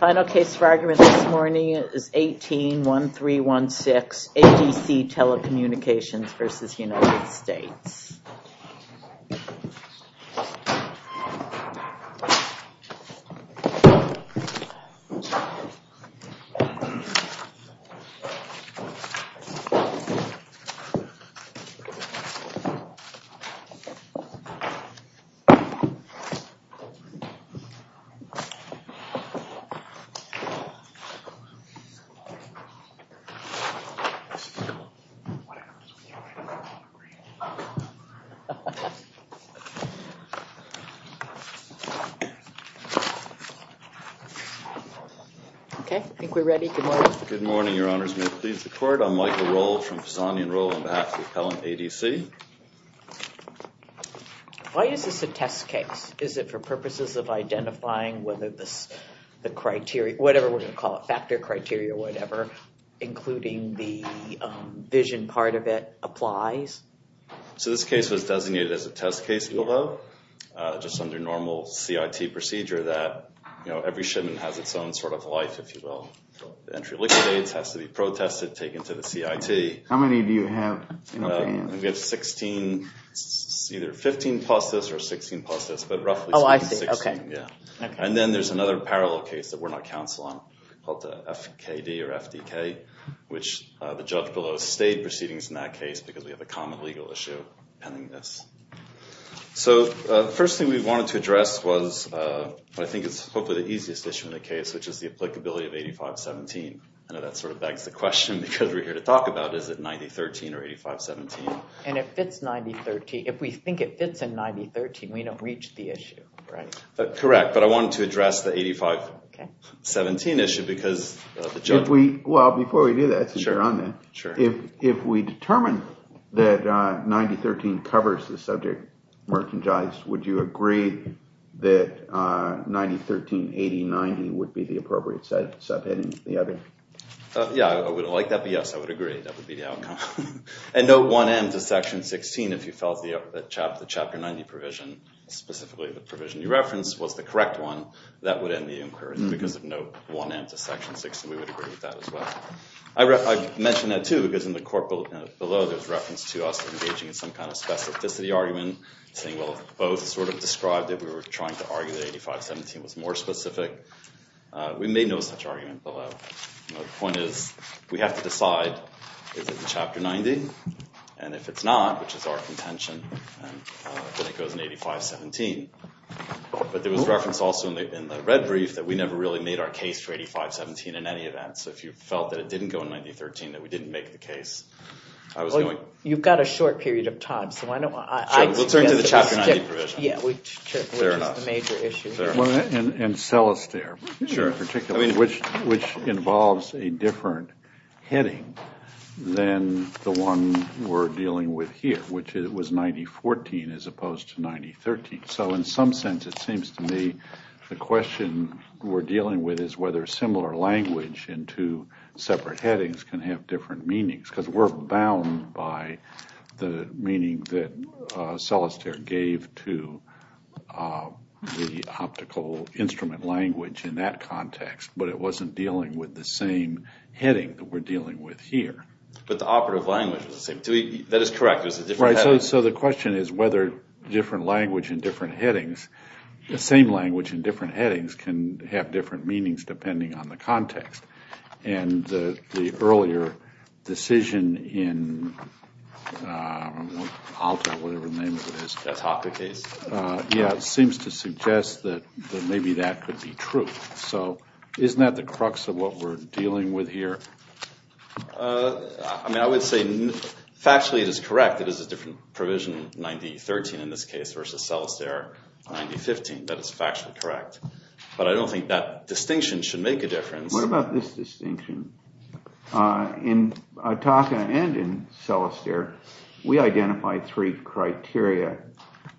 Final case for argument this morning is 18-1316, ADC Telecommunications v. United States. Okay, I think we're ready. Good morning. Good morning, your honors. Good morning. Good morning. Pleased to court. I'm Michael Rohl from Pisani and Rohl on behalf of the appellant ADC. Why is this a test case? Is it for purposes of identifying whether the criteria, whatever we're going to call it, factor criteria or whatever, including the vision part of it, applies? So this case was designated as a test case below, just under normal CIT procedure that every shipment has its own sort of life, if you will. The entry of liquidates has to be protested, taken to the CIT. How many do you have? We have 16, either 15 plus this or 16 plus this, but roughly 16. Oh, I see. Okay. And then there's another parallel case that we're not counsel on called the FKD or FDK, which the judge below stayed proceedings in that case because we have a common legal issue pending this. So the first thing we wanted to address was I think it's hopefully the easiest issue in the case, which is the applicability of 85-17. I know that sort of begs the question because we're here to talk about is it 90-13 or 85-17. And it fits 90-13. If we think it fits in 90-13, we don't reach the issue, right? Correct, but I wanted to address the 85-17 issue because the judge... Well, before we do that, since you're on that, if we determine that 90-13 covers the subject merchandised, would you agree that 90-13, 80-90 would be the appropriate subheading for the other? Yeah, I would like that. Yes, I would agree. That would be the outcome. And note 1M to section 16 if you felt the chapter 90 provision, specifically the provision you referenced, was the correct one, that would end the inquiry because of note 1M to section 16. We would agree with that as well. I mentioned that too because in the court below, there's reference to us engaging in some kind of specificity argument saying, well, both sort of described it. We were trying to argue that 85-17 was more specific. We made no such argument below. The point is we have to decide, is it the chapter 90? And if it's not, which is our contention, then it goes in 85-17. But there was reference also in the red brief that we never really made our case for 85-17 in any event. So if you felt that it didn't go in 90-13, that we didn't make the case, I was going... You've got a short period of time, so why don't I... We'll turn to the chapter 90 provision. Yeah, which is the major issue. And Celestere in particular, which involves a different heading than the one we're dealing with here, which was 90-14 as opposed to 90-13. So in some sense, it seems to me the question we're dealing with is whether similar language in two separate headings can have different meanings because we're bound by the meaning that Celestere gave to the optical instrument language in that context, but it wasn't dealing with the same heading that we're dealing with here. But the operative language is the same. That is correct. Right, so the question is whether different language in different headings, the same language in different headings can have different meanings depending on the context. And the earlier decision in Alta, whatever the name of it is, seems to suggest that maybe that could be true. So isn't that the crux of what we're dealing with here? I mean, I would say factually it is correct that it is a different provision, 90-13 in this case, versus Celestere 90-15. That is factually correct. But I don't think that distinction should make a difference. What about this distinction? In Ataka and in Celestere, we identified three criteria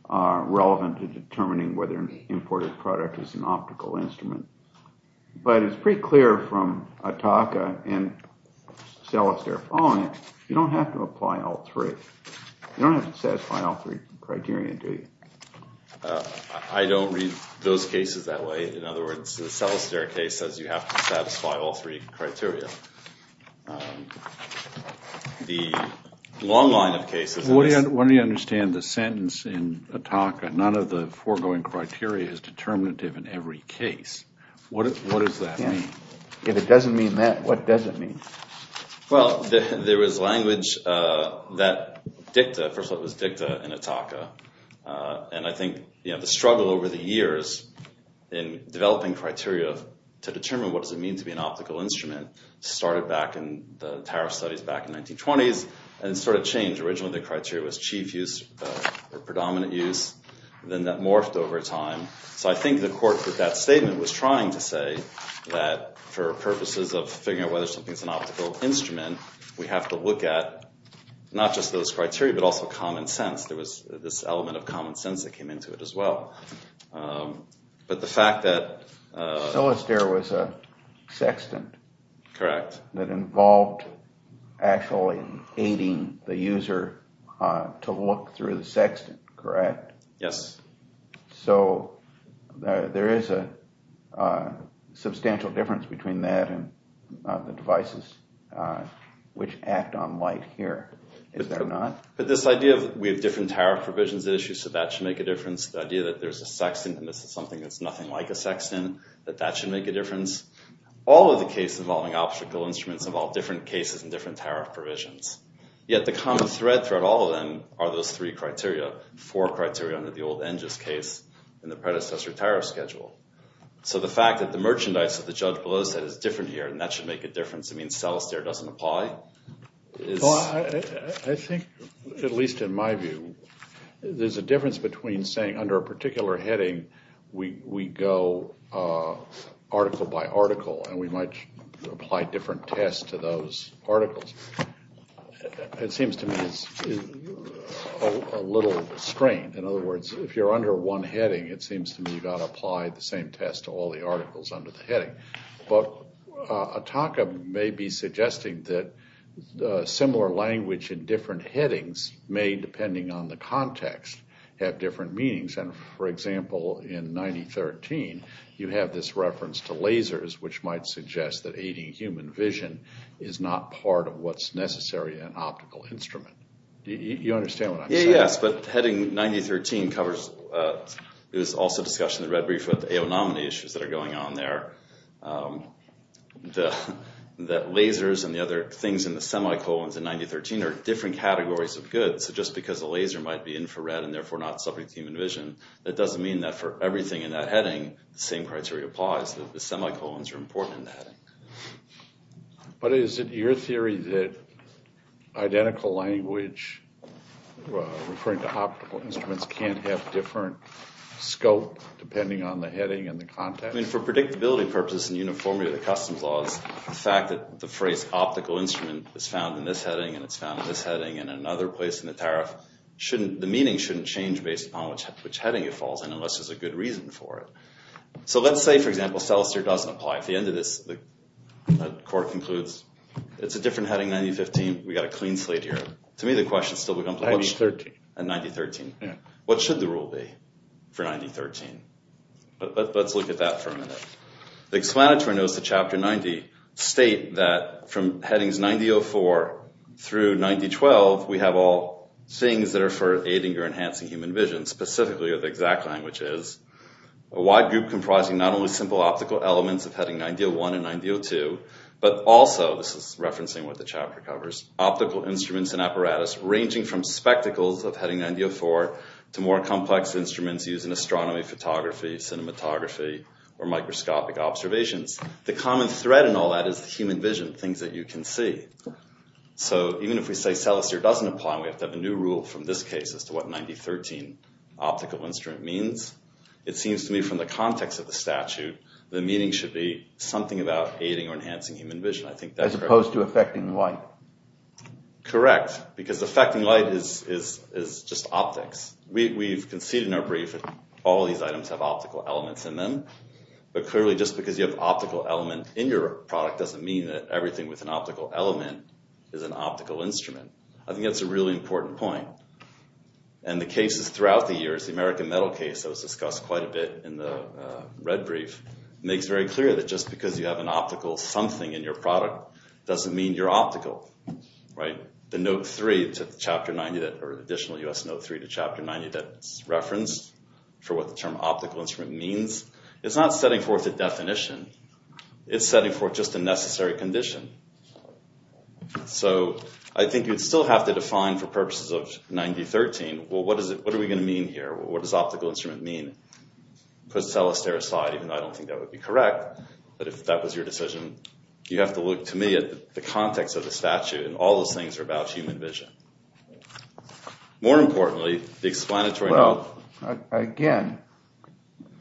relevant to determining whether an imported product is an optical instrument. But it's pretty clear from Ataka and Celestere following it, you don't have to apply all three. You don't have to satisfy all three criteria, do you? I don't read those cases that way. In other words, the Celestere case says you have to satisfy all three criteria. The long line of cases— Well, what do you understand the sentence in Ataka, none of the foregoing criteria is determinative in every case. What does that mean? If it doesn't mean that, what does it mean? Well, there was language that dicta—first of all, it was dicta in Ataka. And I think the struggle over the years in developing criteria to determine what does it mean to be an optical instrument started back in the tariff studies back in the 1920s. And it sort of changed. Originally, the criteria was chief use or predominant use. Then that morphed over time. So I think the court with that statement was trying to say that for purposes of figuring out whether something's an optical instrument, we have to look at not just those criteria but also common sense. There was this element of common sense that came into it as well. But the fact that— Celestere was a sextant. Correct. That involved actually aiding the user to look through the sextant, correct? Yes. So there is a substantial difference between that and the devices which act on light here, is there not? But this idea of we have different tariff provisions at issue, so that should make a difference. The idea that there's a sextant and this is something that's nothing like a sextant, that that should make a difference. All of the cases involving optical instruments involve different cases and different tariff provisions. Yet the common thread throughout all of them are those three criteria, four criteria under the old Enges case and the predecessor tariff schedule. So the fact that the merchandise that the judge below said is different here and that should make a difference, it means Celestere doesn't apply. I think, at least in my view, there's a difference between saying under a particular heading we go article by article and we might apply different tests to those articles. It seems to me it's a little strange. In other words, if you're under one heading, it seems to me you've got to apply the same test to all the articles under the heading. But Ataka may be suggesting that similar language in different headings may, depending on the context, have different meanings. For example, in 9013, you have this reference to lasers, which might suggest that aiding human vision is not part of what's necessary in an optical instrument. Do you understand what I'm saying? Yes, but heading 9013 covers – there's also discussion in the red brief about the AO nominee issues that are going on there. The lasers and the other things in the semicolons in 9013 are different categories of goods. So just because a laser might be infrared and therefore not subject to human vision, that doesn't mean that for everything in that heading, the same criteria applies. The semicolons are important in the heading. But is it your theory that identical language referring to optical instruments can't have different scope depending on the heading and the context? I mean, for predictability purposes and uniformity of the customs laws, the fact that the phrase optical instrument is found in this heading and it's found in this heading and in another place in the tariff, the meaning shouldn't change based upon which heading it falls in unless there's a good reason for it. So let's say, for example, Selaster doesn't apply. At the end of this, the court concludes it's a different heading, 9015. We've got a clean slate here. To me, the question still becomes – 9013. 9013. Yeah. What should the rule be for 9013? Let's look at that for a minute. The explanatory notes to Chapter 90 state that from headings 9004 through 9012, we have all things that are for aiding or enhancing human vision, specifically what the exact language is. A wide group comprising not only simple optical elements of heading 9001 and 9002, but also – this is referencing what the chapter covers – optical instruments and apparatus ranging from spectacles of heading 9004 to more complex instruments using astronomy, photography, cinematography, or microscopic observations. The common thread in all that is human vision, things that you can see. So even if we say Selaster doesn't apply, we have to have a new rule from this case as to what 9013 optical instrument means. It seems to me from the context of the statute, the meaning should be something about aiding or enhancing human vision. I think that's correct. As opposed to affecting light. Correct. Because affecting light is just optics. We've conceded in our brief that all of these items have optical elements in them. But clearly just because you have an optical element in your product doesn't mean that everything with an optical element is an optical instrument. I think that's a really important point. And the cases throughout the years, the American metal case that was discussed quite a bit in the red brief, makes very clear that just because you have an optical something in your product doesn't mean you're optical. The additional US Note 3 to Chapter 90 that's referenced for what the term optical instrument means, it's not setting forth a definition. It's setting forth just a necessary condition. So I think you'd still have to define for purposes of 9013, well, what are we going to mean here? What does optical instrument mean? Put Selaster aside, even though I don't think that would be correct. But if that was your decision, you have to look to me at the context of the statute. And all those things are about human vision. More importantly, the explanatory note. Again,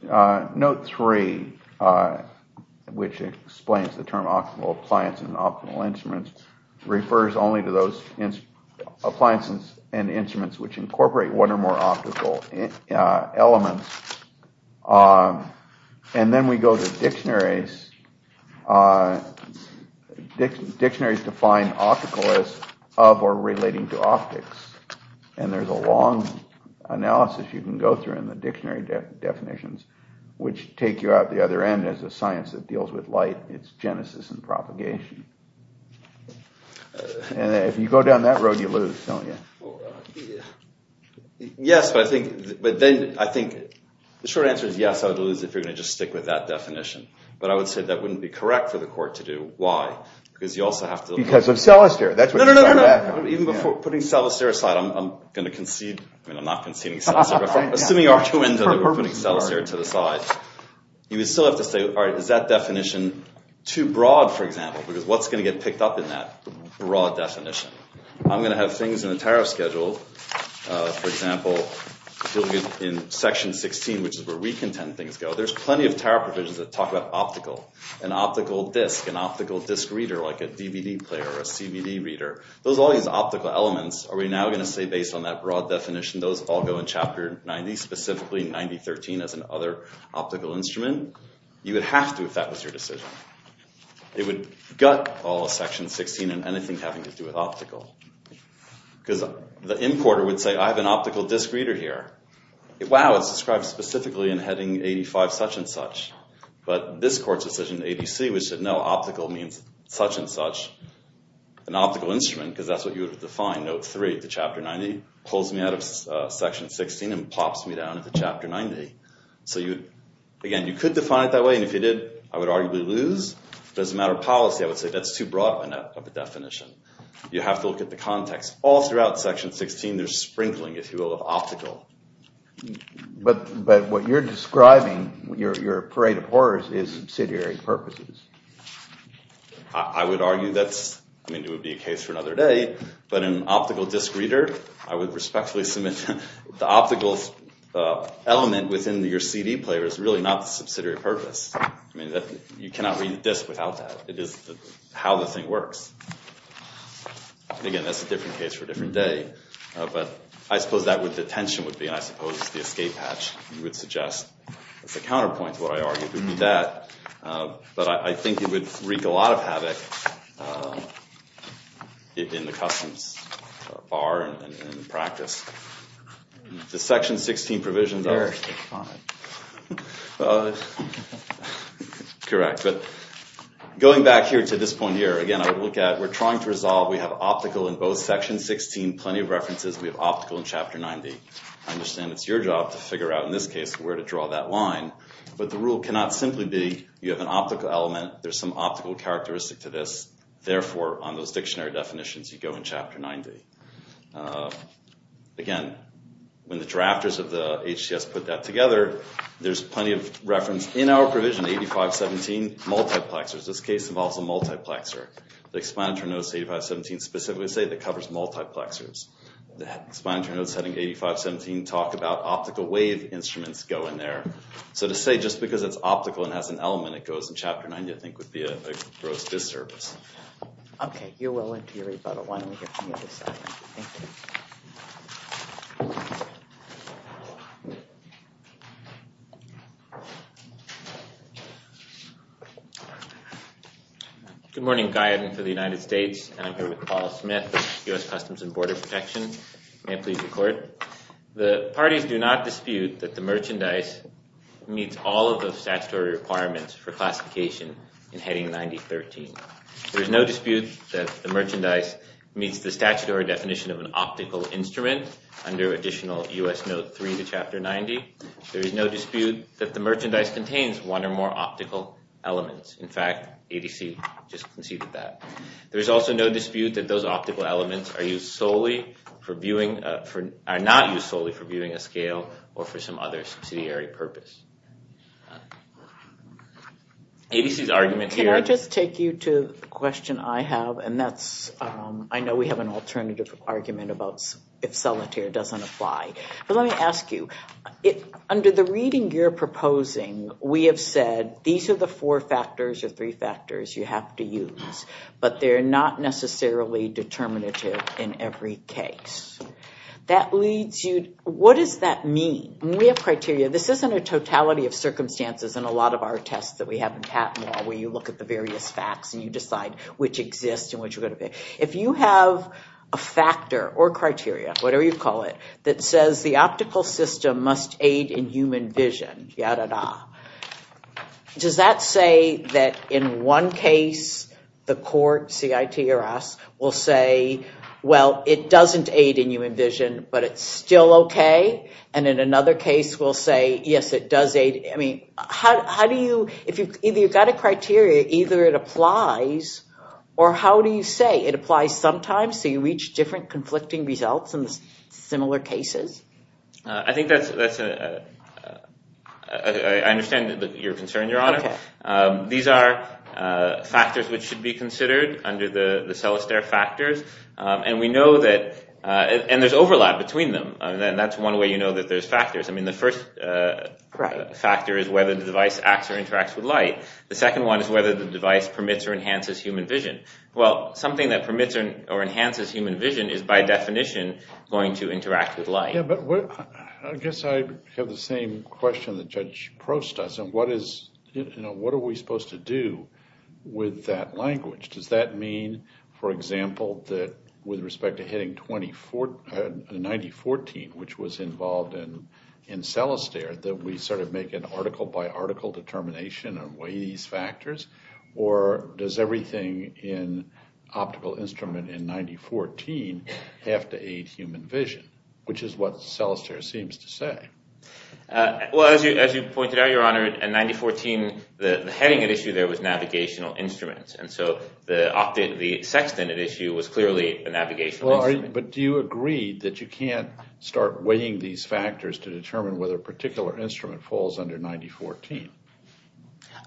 Note 3, which explains the term optimal appliance and optimal instruments, refers only to those appliances and instruments which incorporate one or more optical elements. And then we go to dictionaries. Dictionaries define optical as of or relating to optics. And there's a long analysis you can go through in the dictionary definitions, which take you out the other end as a science that deals with light. It's genesis and propagation. And if you go down that road, you lose, don't you? Yes, but then I think the short answer is yes. I would lose if you're going to just stick with that definition. But I would say that wouldn't be correct for the court to do. Why? Because you also have to. Because of Selaster. No, no, no, no. Even before putting Selaster aside, I'm going to concede. I mean, I'm not conceding Selaster. Assuming you are too into putting Selaster to the side, you would still have to say, all right, is that definition too broad, for example? Because what's going to get picked up in that broad definition? I'm going to have things in the tariff schedule. For example, in Section 16, which is where we contend things go, there's plenty of tariff provisions that talk about optical. An optical disc, an optical disc reader, like a DVD player or a CBD reader. Those are all these optical elements. Are we now going to say, based on that broad definition, those all go in Chapter 90, specifically 90.13 as an other optical instrument? You would have to if that was your decision. It would gut all of Section 16 and anything having to do with optical. Because the importer would say, I have an optical disc reader here. Wow, it's described specifically in Heading 85 such and such. But this court's decision, ADC, which said no, optical means such and such, an optical instrument. Because that's what you would have defined, Note 3, the Chapter 90. Pulls me out of Section 16 and pops me down into Chapter 90. Again, you could define it that way. And if you did, I would arguably lose. But as a matter of policy, I would say that's too broad of a definition. You have to look at the context. All throughout Section 16, there's sprinkling, if you will, of optical. But what you're describing, your parade of horrors, is subsidiary purposes. I would argue that's, I mean, it would be a case for another day. But an optical disc reader, I would respectfully submit, the optical element within your CD player is really not the subsidiary purpose. I mean, you cannot read a disc without that. It is how the thing works. Again, that's a different case for a different day. But I suppose that would, the tension would be, and I suppose the escape hatch, you would suggest, as a counterpoint to what I argued, would be that. But I think it would wreak a lot of havoc in the customs bar and in practice. The Section 16 provisions are... Correct. But going back here to this point here, again, I would look at, we're trying to resolve, we have optical in both Sections 16, plenty of references. We have optical in Chapter 90. I understand it's your job to figure out, in this case, where to draw that line. But the rule cannot simply be, you have an optical element, there's some optical characteristic to this, therefore, on those dictionary definitions, you go in Chapter 90. Again, when the drafters of the HCS put that together, there's plenty of reference in our provision, 8517, multiplexers. This case involves a multiplexer. The explanatory notes, 8517, specifically say it covers multiplexers. The explanatory notes, heading 8517, talk about optical wave instruments go in there. So to say just because it's optical and has an element, it goes in Chapter 90, I think, would be a gross disservice. Okay, you're well into your rebuttal. Why don't we get from the other side? Thank you. Good morning, guidance for the United States. I'm here with Paul Smith, U.S. Customs and Border Protection. May I please record? The parties do not dispute that the merchandise meets all of those statutory requirements for classification in Heading 90.13. There is no dispute that the merchandise meets the statutory definition of an optical instrument under additional U.S. Note 3 to Chapter 90. There is no dispute that the merchandise contains one or more optical elements. In fact, ADC just conceded that. There is also no dispute that those optical elements are used solely for viewing, are not used solely for viewing a scale or for some other subsidiary purpose. ADC's argument here... Can I just take you to the question I have? And that's, I know we have an alternative argument about if solitaire doesn't apply. But let me ask you, under the reading you're proposing, we have said these are the four factors or three factors you have to use, but they're not necessarily determinative in every case. That leads you... What does that mean? When we have criteria, this isn't a totality of circumstances in a lot of our tests that we have in patent law where you look at the various facts and you decide which exists and which are going to be. If you have a factor or criteria, whatever you call it, that says the optical system must aid in human vision, ya-da-da, does that say that in one case the court, CIT or us, will say, well, it doesn't aid in human vision, but it's still okay? And in another case we'll say, yes, it does aid... I mean, how do you... Either you've got a criteria, either it applies, or how do you say it applies sometimes so you reach different conflicting results in similar cases? I think that's... I understand your concern, Your Honor. These are factors which should be considered under the Selastare factors, and we know that... And there's overlap between them. That's one way you know that there's factors. The first factor is whether the device acts or interacts with light. The second one is whether the device permits or enhances human vision. Well, something that permits or enhances human vision is by definition going to interact with light. Yeah, but I guess I have the same question that Judge Probst does. What are we supposed to do with that language? Does that mean, for example, that with respect to hitting 9014, which was involved in Selastare, that we sort of make an article-by-article determination and weigh these factors? Or does everything in optical instrument in 9014 have to aid human vision, which is what Selastare seems to say? Well, as you pointed out, Your Honor, in 9014, the heading at issue there was navigational instruments, and so the sextant at issue was clearly a navigational instrument. But do you agree that you can't start weighing these factors to determine whether a particular instrument falls under 9014?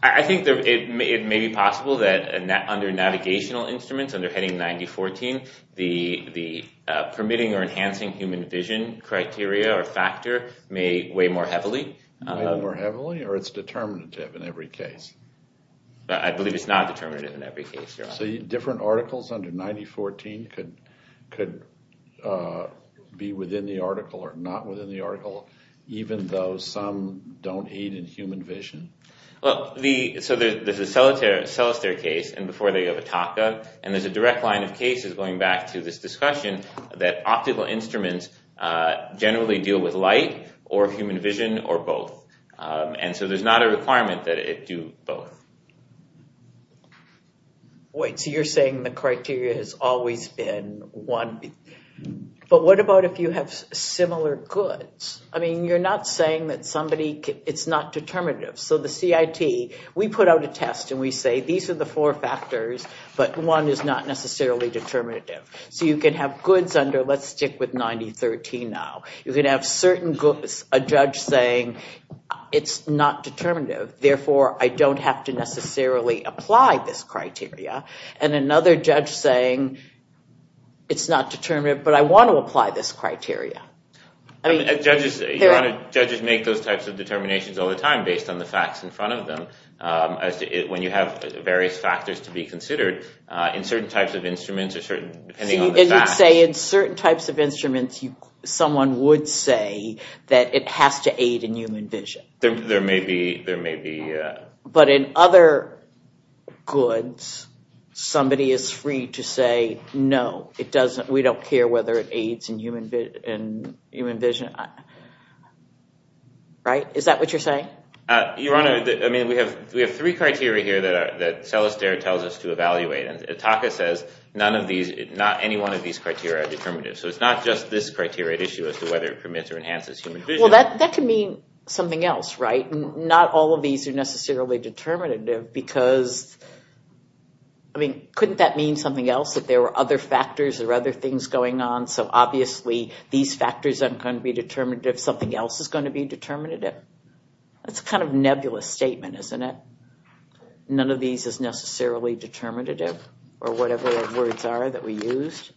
I think it may be possible that under navigational instruments, under heading 9014, the permitting or enhancing human vision criteria or factor may weigh more heavily. Weigh more heavily, or it's determinative in every case? I believe it's not determinative in every case, Your Honor. So different articles under 9014 could be within the article or not within the article, even though some don't aid in human vision? Well, so there's a Selastare case, and before they have a TACA, and there's a direct line of cases going back to this discussion that optical instruments generally deal with light or human vision or both. And so there's not a requirement that it do both. Wait, so you're saying the criteria has always been one. But what about if you have similar goods? I mean, you're not saying that somebody... It's not determinative. So the CIT, we put out a test, and we say, these are the four factors, but one is not necessarily determinative. So you can have goods under, let's stick with 9013 now. You can have certain goods, a judge saying, it's not determinative, therefore I don't have to necessarily apply this criteria, and another judge saying, it's not determinative, but I want to apply this criteria. Judges make those types of determinations all the time based on the facts in front of them. When you have various factors to be considered, in certain types of instruments or certain... It would say in certain types of instruments, someone would say that it has to aid in human vision. There may be... But in other goods, somebody is free to say, no, we don't care whether it aids in human vision. Right? Is that what you're saying? Your Honor, I mean, we have three criteria here that Celestere tells us to evaluate, and ITACA says none of these, not any one of these criteria are determinative. So it's not just this criteria at issue as to whether it permits or enhances human vision. Well, that can mean something else, right? Not all of these are necessarily determinative because... I mean, couldn't that mean something else, that there were other factors or other things going on, so obviously these factors aren't going to be determinative, something else is going to be determinative? That's a kind of nebulous statement, isn't it? None of these is necessarily determinative, or whatever the words are that we used.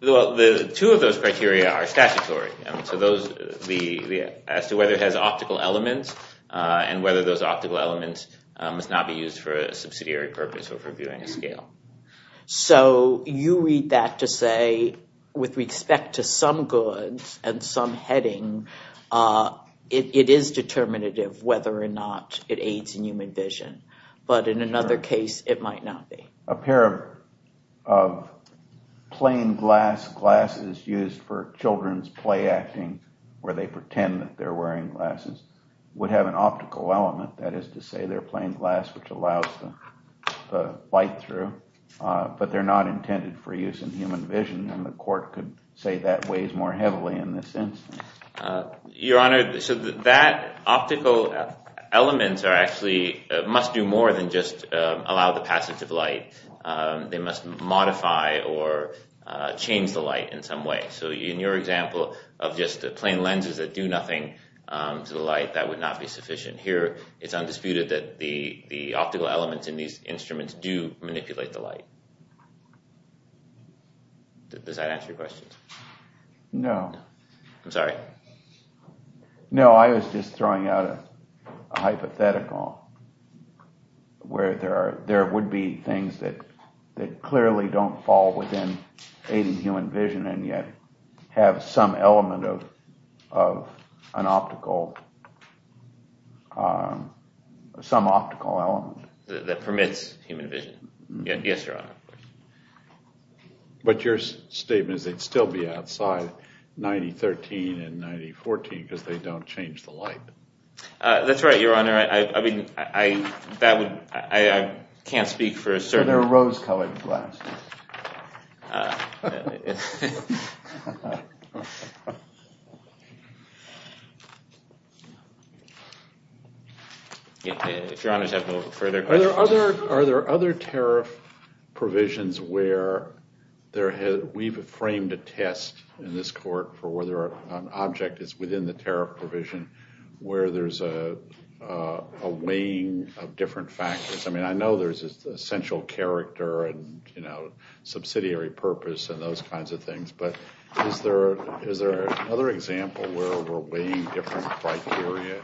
Well, two of those criteria are statutory. So those... As to whether it has optical elements and whether those optical elements must not be used for a subsidiary purpose or for viewing a scale. So you read that to say, with respect to some goods and some heading, it is determinative whether or not it aids in human vision. But in another case, it might not be. A pair of plain glass glasses used for children's play acting, where they pretend that they're wearing glasses, would have an optical element, that is to say they're plain glass, which allows the light through. But they're not intended for use in human vision, and the court could say that weighs more heavily in this instance. Your Honor, so that optical element must do more than just allow the passage of light. They must modify or change the light in some way. So in your example of just plain lenses that do nothing to the light, that would not be sufficient. Here, it's undisputed that the optical elements in these instruments do manipulate the light. Does that answer your question? No. I'm sorry? No, I was just throwing out a hypothetical where there would be things that clearly don't fall within aiding human vision and yet have some optical element. That permits human vision. Yes, Your Honor. But your statement is they'd still be outside 1913 and 1914 because they don't change the light. That's right, Your Honor. I can't speak for a certain... They're rose-colored glasses. If Your Honor has no further questions... Are there other tariff provisions where we've framed a test in this court for whether an object is within the tariff provision where there's a weighing of different factors? I mean, I know there's essential character and subsidiary purpose and those kinds of things, but is there another example where we're weighing different criteria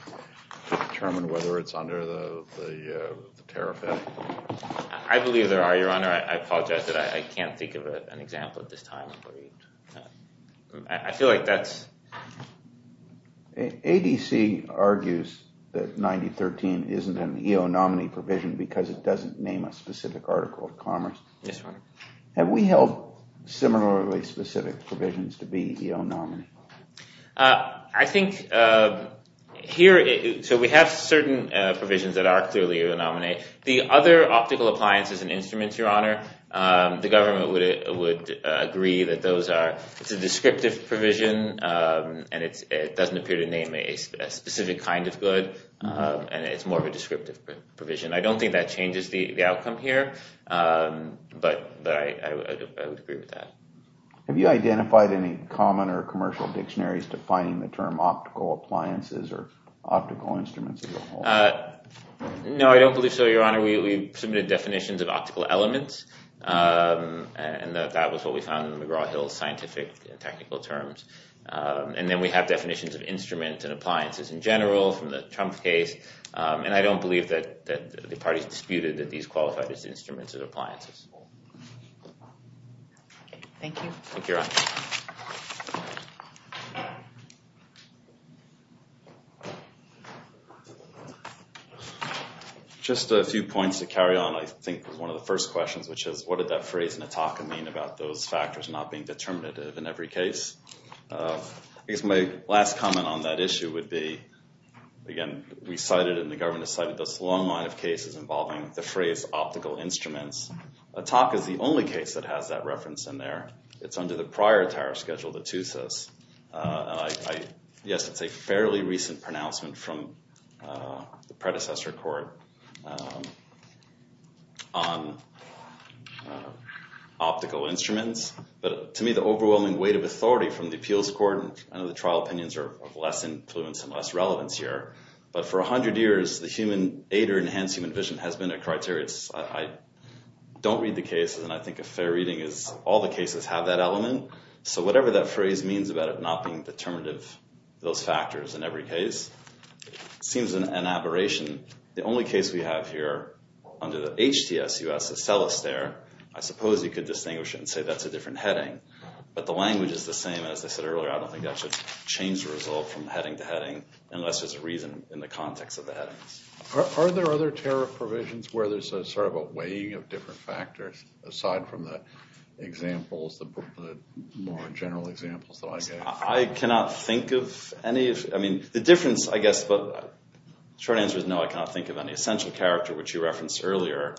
to determine whether it's under the tariff? I believe there are, Your Honor. I apologize that I can't think of an example at this time. I feel like that's... ADC argues that 1913 isn't an EO nominee provision because it doesn't name a specific article of commerce. Yes, Your Honor. Have we held similarly specific provisions to be EO nominee? I think here... So we have certain provisions that are clearly EO nominee. The other optical appliances and instruments, Your Honor, the government would agree that those are... It's a descriptive provision and it doesn't appear to name a specific kind of good and it's more of a descriptive provision. I don't think that changes the outcome here, but I would agree with that. Have you identified any common or commercial dictionaries defining the term optical appliances or optical instruments as a whole? No, I don't believe so, Your Honor. We submitted definitions of optical elements and that was what we found in McGraw-Hill's scientific and technical terms. And then we have definitions of instruments and appliances in general from the Trump case. And I don't believe that the parties disputed that these qualified as instruments and appliances. Thank you. Thank you, Your Honor. Just a few points to carry on, I think was one of the first questions, which is what did that phrase in Ataka mean about those factors not being determinative in every case? I guess my last comment on that issue would be, again, we cited and the government cited this long line of cases involving the phrase optical instruments. Ataka is the only case that has that reference in there. It's under the prior tariff schedule, the TUSIS. Yes, it's a fairly recent pronouncement from the predecessor court on optical instruments. But to me, the overwhelming weight of authority from the appeals court, I know the trial opinions are of less influence and less relevance here. But for 100 years, the human aid or enhanced human vision has been a criteria. I don't read the cases and I think a fair reading is all the cases have that element. So whatever that phrase means about it not being determinative, those factors in every case, seems an aberration. The only case we have here under the HTSUS, the cellist there, I suppose you could distinguish it and say that's a different heading. But the language is the same, as I said earlier, I don't think that should change the result from heading to heading unless there's a reason in the context of the headings. Are there other tariff provisions where there's sort of a weighing of different factors aside from the examples, the more general examples that I gave? I cannot think of any. I mean, the difference, I guess, short answer is no, I cannot think of any. Essential character, which you referenced earlier,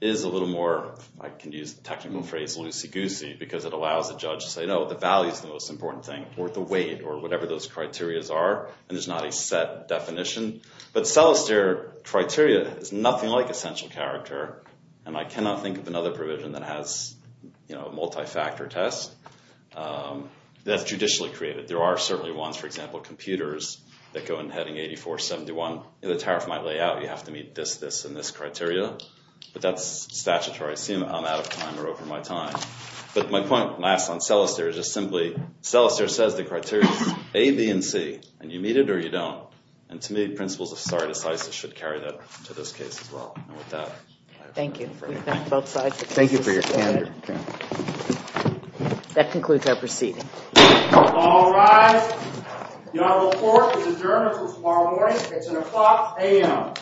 is a little more, I can use the technical phrase, loosey-goosey because it allows the judge to say, no, the value is the most important thing or the weight or whatever those criterias are and there's not a set definition. But cellist there, criteria, is nothing like essential character and I cannot think of another provision that has a multi-factor test that's judicially created. There are certainly ones, for example, computers that go in heading 8471. The tariff might lay out, you have to meet this, this, and this criteria, but that's statutory. I assume I'm out of time or over my time. But my point last on cellist there is just simply, cellist there says the criteria is A, B, and C and you meet it or you don't. And to me, principles of society size should carry that to this case as well. And with that. Thank you. Thank you for your time. That concludes our proceeding. All rise. Your report is adjourned until tomorrow morning. It's an o'clock a.m.